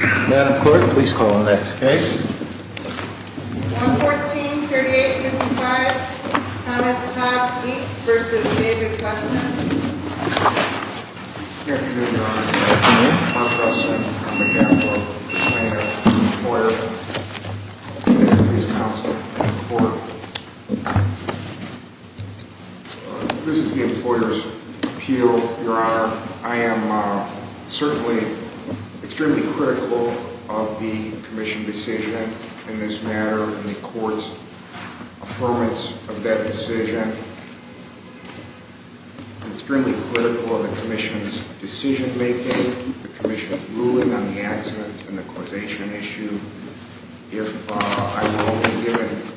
143855, Thomas Todd, Inc. v. David Custon Good afternoon, Your Honor. My name is Mark Custon. I'm a DAPOA Plano employer. I'm with the Davis Police Council and the Court. This is the Employers' Appeal, Your Honor. I am certainly extremely critical of the Commission's decision in this matter and the Court's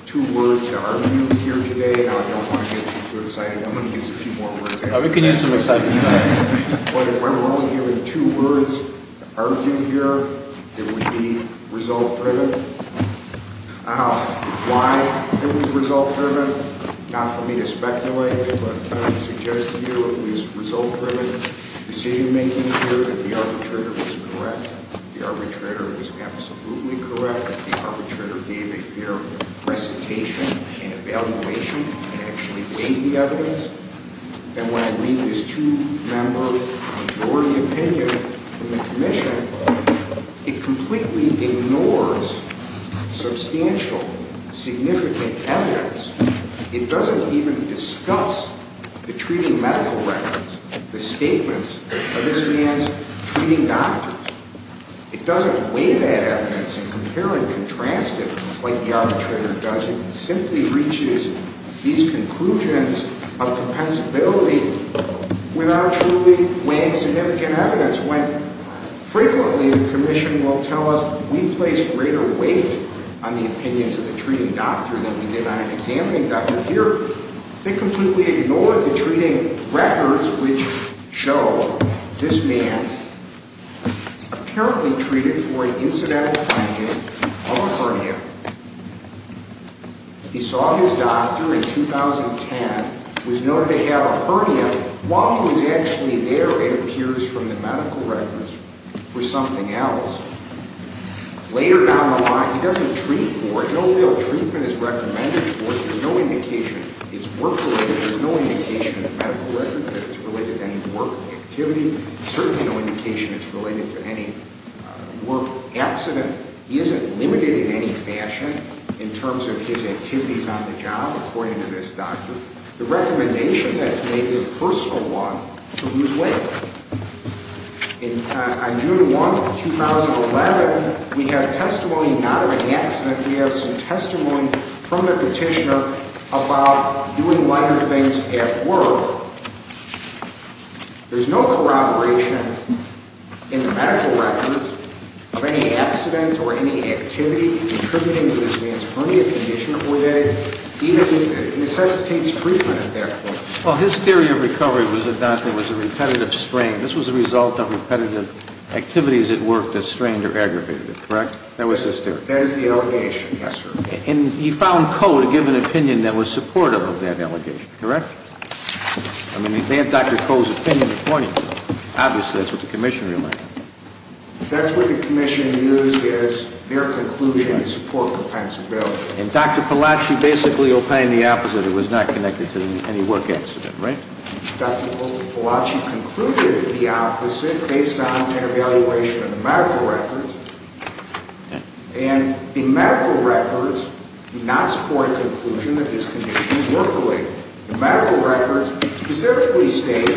two words to argue here today. I don't want to get you too excited. I'm going to use a few more words. But if we're only hearing two words to argue here, it would be result-driven. Why it was result-driven, not for me to speculate, but I suggest to you it was result-driven decision-making here that the arbitrator was correct. The arbitrator was absolutely correct. The arbitrator gave a fair recitation and evaluation and actually weighed the evidence. And when I read this two-member majority opinion from the Commission, it completely ignores substantial, significant evidence. It doesn't even discuss the treating medical records, the statements of this man's treating doctors. It doesn't weigh that evidence and compare and contrast it like the arbitrator does. It simply reaches these conclusions of compensability without truly weighing significant evidence. That's when frequently the Commission will tell us we place greater weight on the opinions of the treating doctor than we did on an examining doctor. Here, they completely ignored the treating records which show this man apparently treated for an incidental finding of a hernia. He saw his doctor in 2010, was noted to have a hernia. While he was actually there, it appears from the medical records, for something else. Later down the line, he doesn't treat for it. No real treatment is recommended for it. There's no indication it's work-related. There's no indication in the medical records that it's related to any work activity. There's certainly no indication it's related to any work accident. He isn't limited in any fashion in terms of his activities on the job, according to this doctor. The recommendation that's made is a personal one to lose weight. On June 1, 2011, we have testimony not of an accident. We have some testimony from the petitioner about doing lighter things at work. There's no corroboration in the medical records of any accident or any activity contributing to this man's hernia condition, even if it necessitates treatment at that point. Well, his theory of recovery was that there was a repetitive strain. This was a result of repetitive activities at work that strained or aggravated it, correct? That was his theory. That is the allegation, yes, sir. And you found Coe to give an opinion that was supportive of that allegation, correct? I mean, they have Dr. Coe's opinion according to it. Obviously, that's what the commission relied on. That's what the commission used as their conclusion to support compensability. And Dr. Palaci basically opined the opposite. It was not connected to any work accident, right? Dr. Palaci concluded the opposite based on an evaluation of the medical records. And the medical records do not support a conclusion that this condition is work-related. The medical records specifically state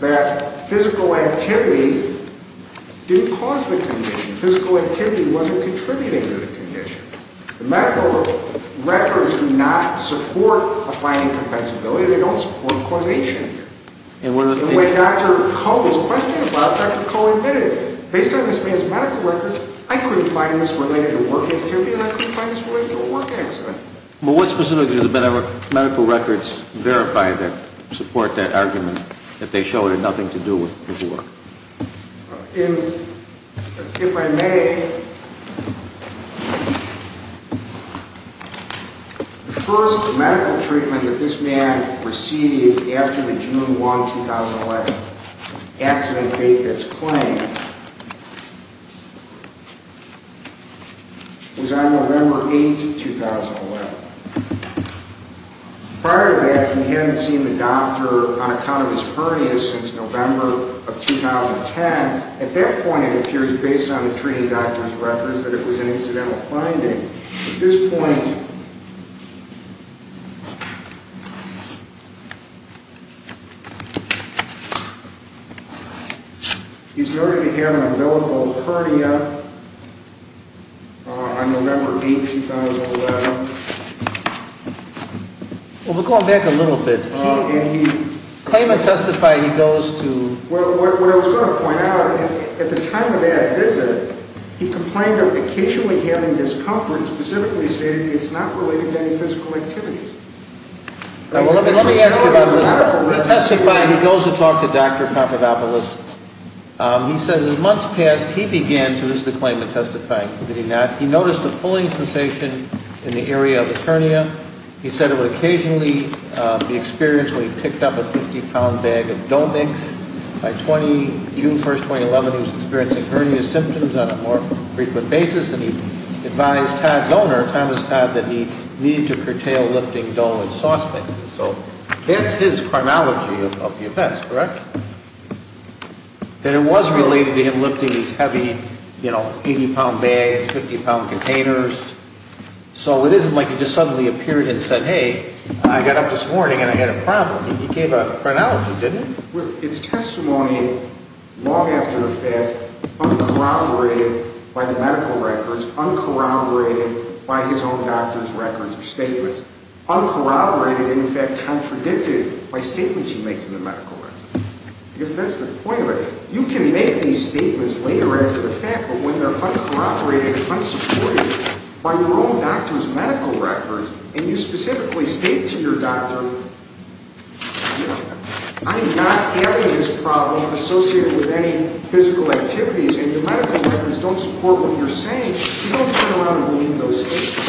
that physical activity didn't cause the condition. Physical activity wasn't contributing to the condition. The medical records do not support a finding of compensability. They don't support causation. And when Dr. Coe was questioning about it, Dr. Coe admitted, based on this man's medical records, I couldn't find this related to work activity and I couldn't find this related to a work accident. But what specifically do the medical records verify that support that argument that they show it had nothing to do with work? If I may, the first medical treatment that this man received after the June 1, 2011, accident date that's claimed, was on November 8, 2011. Prior to that, he hadn't seen the doctor on account of his hernia since November of 2010. At that point, it appears, based on the treating doctor's records, that it was an incidental finding. At this point, he's going to have an umbilical hernia on November 8, 2011. Well, we're going back a little bit. And he... Claim and testify, he goes to... Well, what I was going to point out, at the time of that visit, he complained of occasionally having discomfort, specifically stating it's not related to any physical activities. Now, let me ask you about this. Testifying, he goes to talk to Dr. Papadopoulos. He says, as months passed, he began to list a claim of testifying. Did he not? He noticed a pulling sensation in the area of the hernia. He said it would occasionally be experienced when he picked up a 50-pound bag of dough mix. By June 1, 2011, he was experiencing hernia symptoms on a more frequent basis. And he advised Todd's owner, Thomas Todd, that he needed to curtail lifting dough and sauce mixes. So that's his chronology of the events, correct? That it was related to him lifting these heavy, you know, 80-pound bags, 50-pound containers. So it isn't like he just suddenly appeared and said, hey, I got up this morning and I had a problem. He gave a chronology, didn't he? Well, it's testimony long after the fact, uncorroborated by the medical records, uncorroborated by his own doctor's records or statements. Uncorroborated and, in fact, contradicted by statements he makes in the medical records. Because that's the point of it. You can make these statements later after the fact, but when they're uncorroborated and unsupported by your own doctor's medical records, and you specifically state to your doctor, you know, I'm not having this problem associated with any physical activities, and your medical records don't support what you're saying, you don't turn around and leave those statements.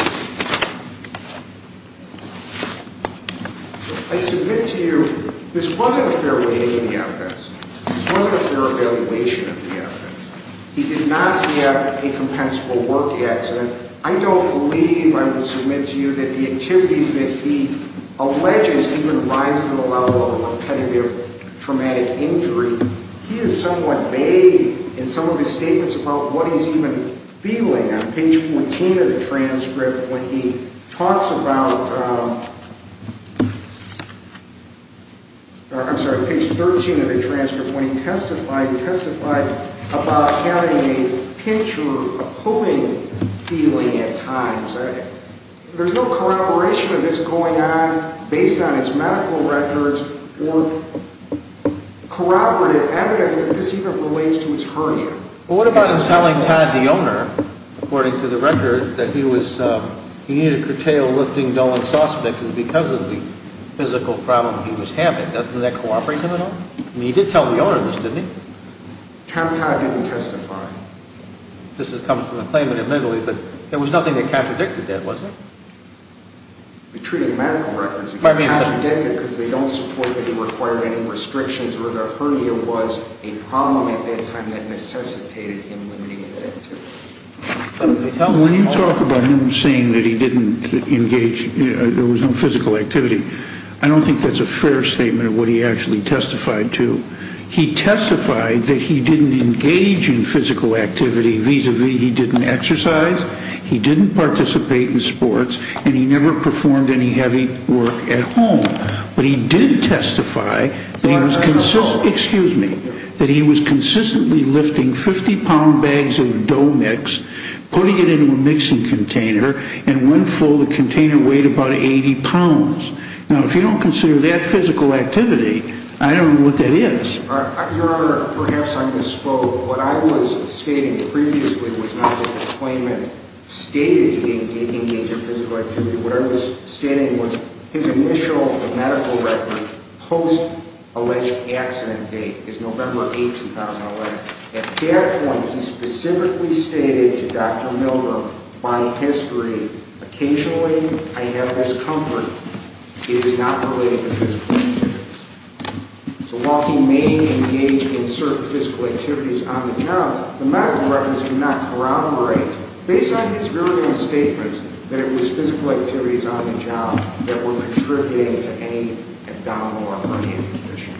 I submit to you, this wasn't a fair reading of the evidence. This wasn't a fair evaluation of the evidence. He did not have a compensable work accident. I don't believe, I would submit to you, that the activities that he alleges even rise to the level of repetitive traumatic injury, he has somewhat made in some of his statements about what he's even feeling. On page 14 of the transcript, when he talks about, I'm sorry, page 13 of the transcript, when he testified, he testified about having a pinch or a pulling feeling at times. There's no corroboration of this going on based on his medical records or corroborative evidence that this even relates to his hurting. Well, what about him telling Todd the owner, according to the record, that he was, he needed to curtail lifting dulling suspects because of the physical problem he was having? Doesn't that cooperate with him at all? I mean, he did tell the owner of this, didn't he? Todd didn't testify. This comes from the claimant admittedly, but there was nothing that contradicted that, was there? It treated medical records. It contradicted because they don't support that he required any restrictions or that hernia was a problem at that time that necessitated him limiting that activity. When you talk about him saying that he didn't engage, there was no physical activity, I don't think that's a fair statement of what he actually testified to. He testified that he didn't engage in physical activity. Vis-a-vis, he didn't exercise. He didn't participate in sports, and he never performed any heavy work at home. But he did testify that he was, excuse me, that he was consistently lifting 50-pound bags of dough mix, putting it into a mixing container, and when full, the container weighed about 80 pounds. Now, if you don't consider that physical activity, I don't know what that is. Your Honor, perhaps I misspoke. What I was stating previously was not what the claimant stated he didn't engage in physical activity. What I was stating was his initial medical record post-alleged accident date is November 8, 2011. At that point, he specifically stated to Dr. Milner, by history, occasionally I have this comfort it is not related to physical activity. So while he may engage in certain physical activities on the job, the medical records do not corroborate, based on his very own statements, that it was physical activities on the job that were contributing to any abdominal or hernia condition.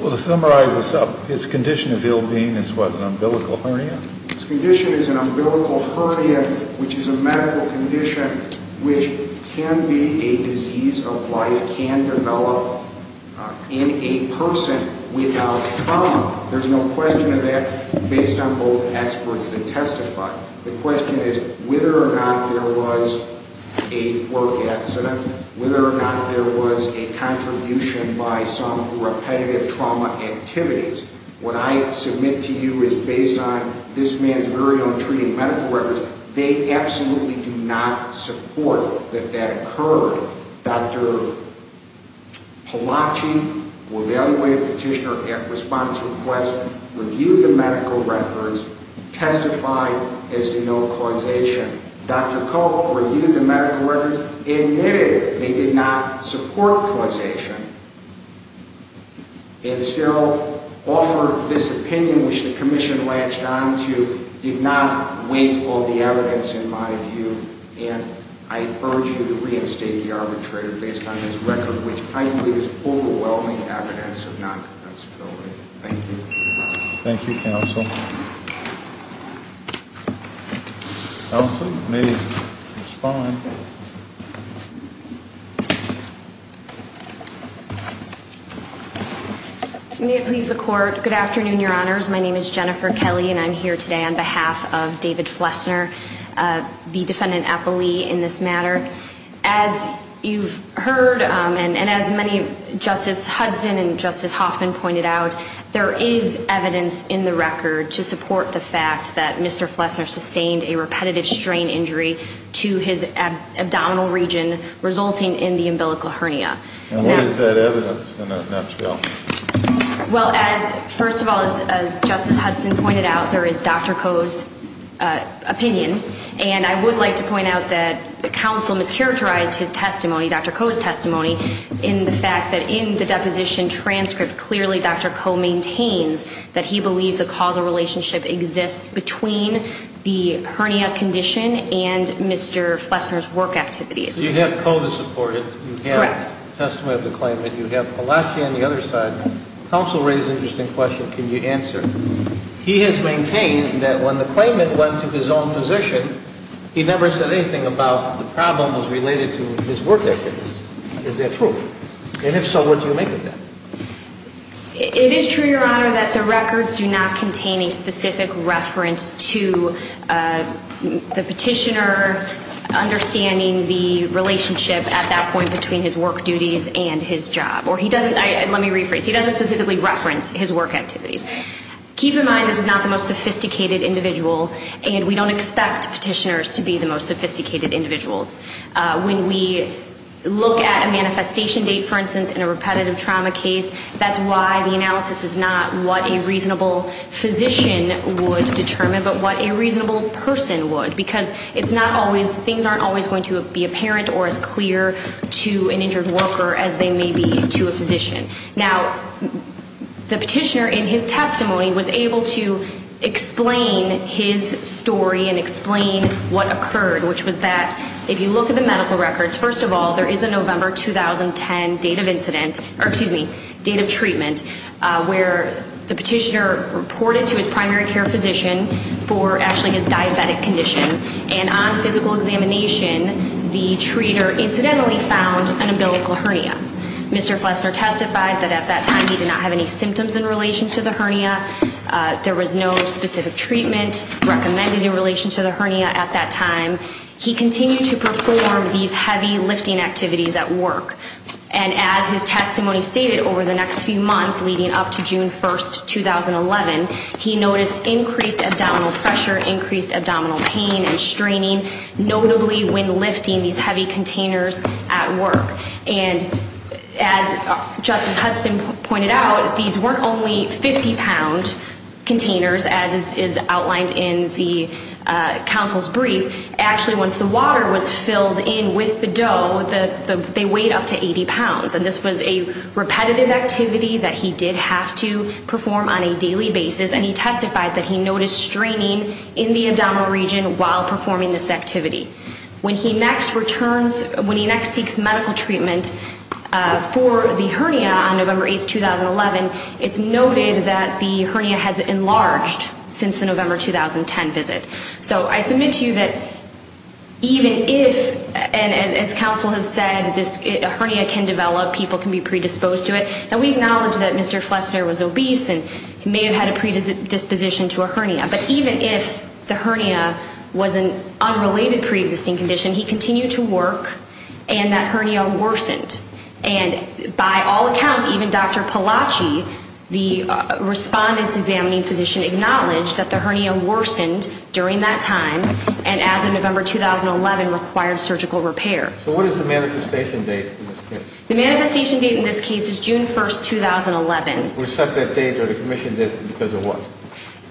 Well, to summarize this up, his condition of ill-being is what, an umbilical hernia? His condition is an umbilical hernia, which is a medical condition which can be a disease of life, that can develop in a person without trauma. There's no question of that based on both experts that testify. The question is whether or not there was a work accident, whether or not there was a contribution by some repetitive trauma activities. What I submit to you is based on this man's very own treating medical records. They absolutely do not support that that occurred. Dr. Palachi, who evaluated the petitioner at response to request, reviewed the medical records, testified as to no causation. Dr. Koch reviewed the medical records, admitted they did not support causation, and still offered this opinion, which the commission latched onto, did not weigh all the evidence in my view. And I urge you to reinstate the arbitrator based on his record, which I believe is overwhelming evidence of non-compensability. Thank you. Thank you, Counsel. Counsel, you may respond. May it please the Court. Good afternoon, Your Honors. My name is Jennifer Kelly, and I'm here today on behalf of David Flesner, the defendant appellee in this matter. As you've heard, and as many Justice Hudson and Justice Hoffman pointed out, there is evidence in the record to support the fact that Mr. Flesner sustained a repetitive strain injury to his abdominal region resulting in the umbilical hernia. And what is that evidence in that trial? Well, first of all, as Justice Hudson pointed out, there is Dr. Koch's opinion. And I would like to point out that counsel mischaracterized his testimony, Dr. Koch's testimony, in the fact that in the deposition transcript, clearly Dr. Koch maintains that he believes a causal relationship exists between the hernia condition and Mr. Flesner's work activities. You have Koch to support it. Correct. You have testimony of the claimant. You have Palachi on the other side. Counsel raised an interesting question. Can you answer? He has maintained that when the claimant went to his own physician, he never said anything about the problems related to his work activities. Is that true? And if so, what do you make of that? It is true, Your Honor, that the records do not contain a specific reference to the petitioner understanding the relationship at that point between his work duties and his job. Let me rephrase. He doesn't specifically reference his work activities. Keep in mind this is not the most sophisticated individual, and we don't expect petitioners to be the most sophisticated individuals. When we look at a manifestation date, for instance, in a repetitive trauma case, that's why the analysis is not what a reasonable physician would determine but what a reasonable person would, because things aren't always going to be apparent or as clear to an injured worker as they may be to a physician. Now, the petitioner in his testimony was able to explain his story and explain what occurred, which was that if you look at the medical records, first of all, there is a November 2010 date of treatment where the petitioner reported to his primary care physician for actually his diabetic condition, and on physical examination the treater incidentally found an umbilical hernia. Mr. Flessner testified that at that time he did not have any symptoms in relation to the hernia. There was no specific treatment recommended in relation to the hernia at that time. He continued to perform these heavy lifting activities at work, and as his testimony stated, over the next few months leading up to June 1, 2011, he noticed increased abdominal pressure, increased abdominal pain and straining, notably when lifting these heavy containers at work. And as Justice Hudson pointed out, these weren't only 50-pound containers, as is outlined in the counsel's brief. Actually, once the water was filled in with the dough, they weighed up to 80 pounds. And this was a repetitive activity that he did have to perform on a daily basis, and he testified that he noticed straining in the abdominal region while performing this activity. When he next returns, when he next seeks medical treatment for the hernia on November 8, 2011, it's noted that the hernia has enlarged since the November 2010 visit. So I submit to you that even if, and as counsel has said, this hernia can develop, people can be predisposed to it, and we acknowledge that Mr. Flesner was obese and may have had a predisposition to a hernia, but even if the hernia was an unrelated preexisting condition, he continued to work and that hernia worsened. And by all accounts, even Dr. Palachi, the respondent's examining physician, acknowledges that the hernia worsened during that time and, as of November 2011, required surgical repair. So what is the manifestation date in this case? The manifestation date in this case is June 1, 2011. Was such a date or the commission date because of what?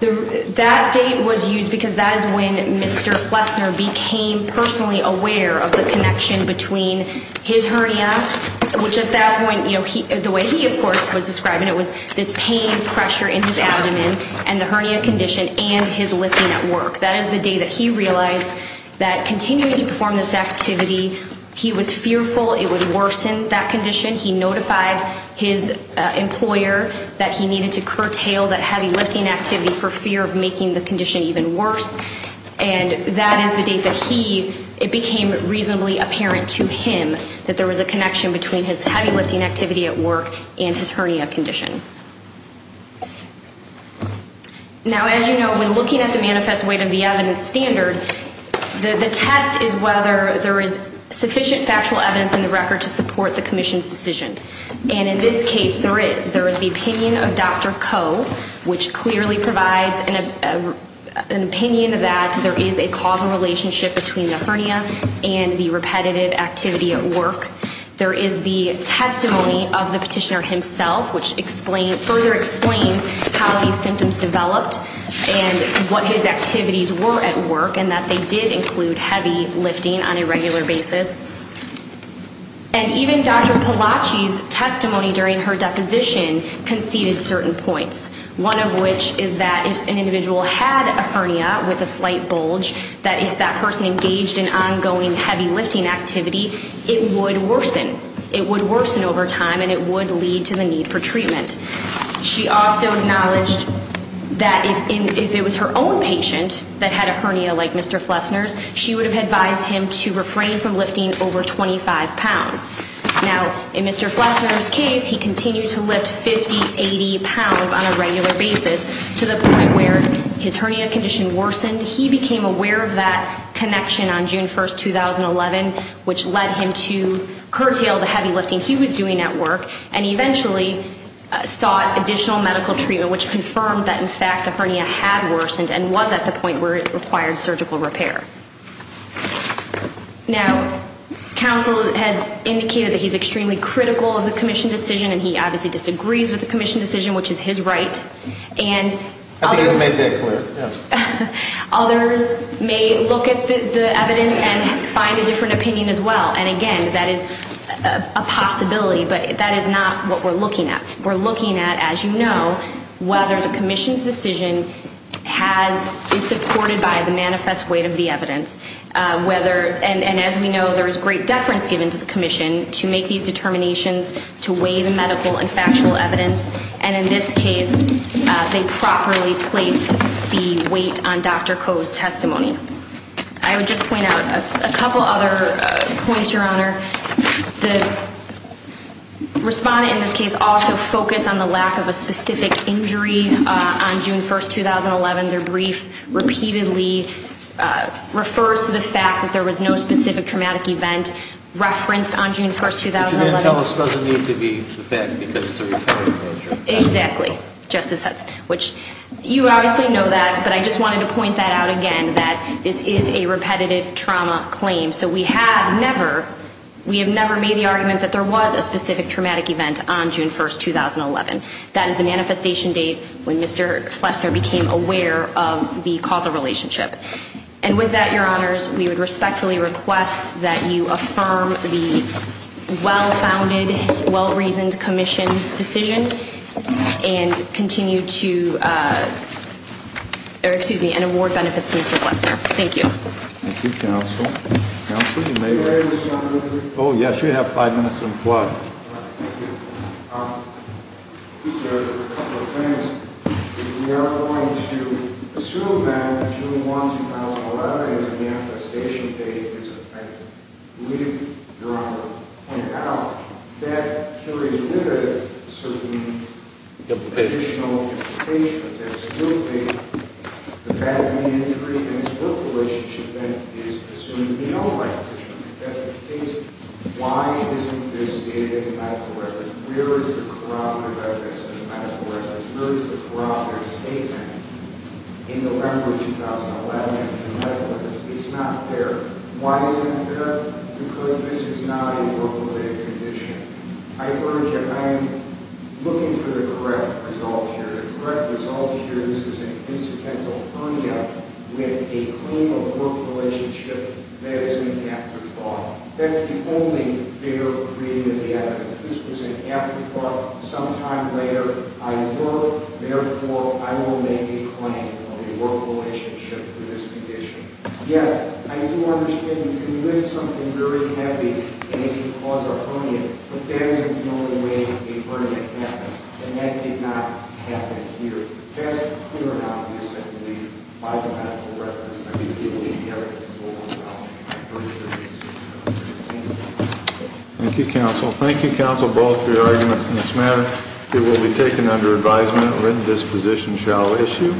That date was used because that is when Mr. Flesner became personally aware of the connection between his hernia, which at that point, the way he, of course, was describing it, was this pain and pressure in his abdomen and the hernia condition and his lifting at work. That is the day that he realized that continuing to perform this activity, he was fearful it would worsen that condition. He notified his employer that he needed to curtail that heavy lifting activity for fear of making the condition even worse, and that is the date that he, it became reasonably apparent to him that there was a connection between his heavy lifting activity at work and his hernia condition. Now, as you know, when looking at the manifest weight of the evidence standard, the test is whether there is sufficient factual evidence in the record to support the commission's decision. And in this case, there is. There is the opinion of Dr. Koh, which clearly provides an opinion that there is a causal relationship between the hernia and the repetitive activity at work. There is the testimony of the petitioner himself, which further explains how these symptoms developed and what his activities were at work and that they did include heavy lifting on a regular basis. And even Dr. Palachi's testimony during her deposition conceded certain points, one of which is that if an individual had a hernia with a slight bulge, that if that person engaged in ongoing heavy lifting activity, it would worsen. It would worsen over time and it would lead to the need for treatment. She also acknowledged that if it was her own patient that had a hernia like Mr. Flessner's, she would have advised him to refrain from lifting over 25 pounds. Now, in Mr. Flessner's case, he continued to lift 50, 80 pounds on a regular basis to the point where his hernia condition worsened. He became aware of that connection on June 1, 2011, which led him to curtail the heavy lifting he was doing at work and eventually sought additional medical treatment, which confirmed that, in fact, the hernia had worsened and was at the point where it required surgical repair. Now, counsel has indicated that he's extremely critical of the Commission's decision and he obviously disagrees with the Commission's decision, which is his right. And others may look at the evidence and find a different opinion as well. And again, that is a possibility, but that is not what we're looking at. We're looking at, as you know, whether the Commission's decision is supported by the manifest weight of the evidence. And as we know, there is great deference given to the Commission to make these determinations, to weigh the medical and factual evidence. And in this case, they properly placed the weight on Dr. Koh's testimony. I would just point out a couple other points, Your Honor. The respondent in this case also focused on the lack of a specific injury on June 1, 2011. Their brief repeatedly refers to the fact that there was no specific traumatic event referenced on June 1, 2011. But you didn't tell us it doesn't need to be the fact because it's a repetitive measure. Exactly, Justice Hudson, which you obviously know that. But I just wanted to point that out again, that this is a repetitive trauma claim. So we have never made the argument that there was a specific traumatic event on June 1, 2011. That is the manifestation date when Mr. Flesner became aware of the causal relationship. And with that, Your Honors, we would respectfully request that you affirm the well-founded, well-reasoned Commission decision and continue to – or excuse me, and award benefits to Mr. Flesner. Thank you. Thank you, Counsel. Counsel, you may raise. May I raise, Your Honor? Oh, yes. You have five minutes and plus. Thank you. Mr. Flesner, a couple of things. If we are going to assume that June 1, 2011 is a manifestation date, I believe Your Honor pointed out, that carries with it a certain additional implication. That it's still the fact of the injury and it's still the relationship that is assumed to be non-manifestation. That's the case. Why isn't this dated in the medical records? Where is the corroborative evidence in the medical records? Where is the corroborative statement in the record of 2011 in the medical records? It's not there. Why isn't it there? Because this is not a work-related condition. I urge you – I am looking for the correct result here. This is an incidental hernia with a claim of work relationship. That is an afterthought. That's the only figure of creative evidence. This was an afterthought. Sometime later, I work. Therefore, I will make a claim of a work relationship for this condition. Yes, I do understand you can lift something very heavy and it can cause a hernia. But that isn't the only way a hernia happens. And that did not happen here. There is a clear amount of missing in the biomedical records. I think you will need the evidence to go along with that. I appreciate it. Thank you. Thank you, counsel. Thank you, counsel, both for your arguments in this matter. It will be taken under advisement. A written disposition shall issue.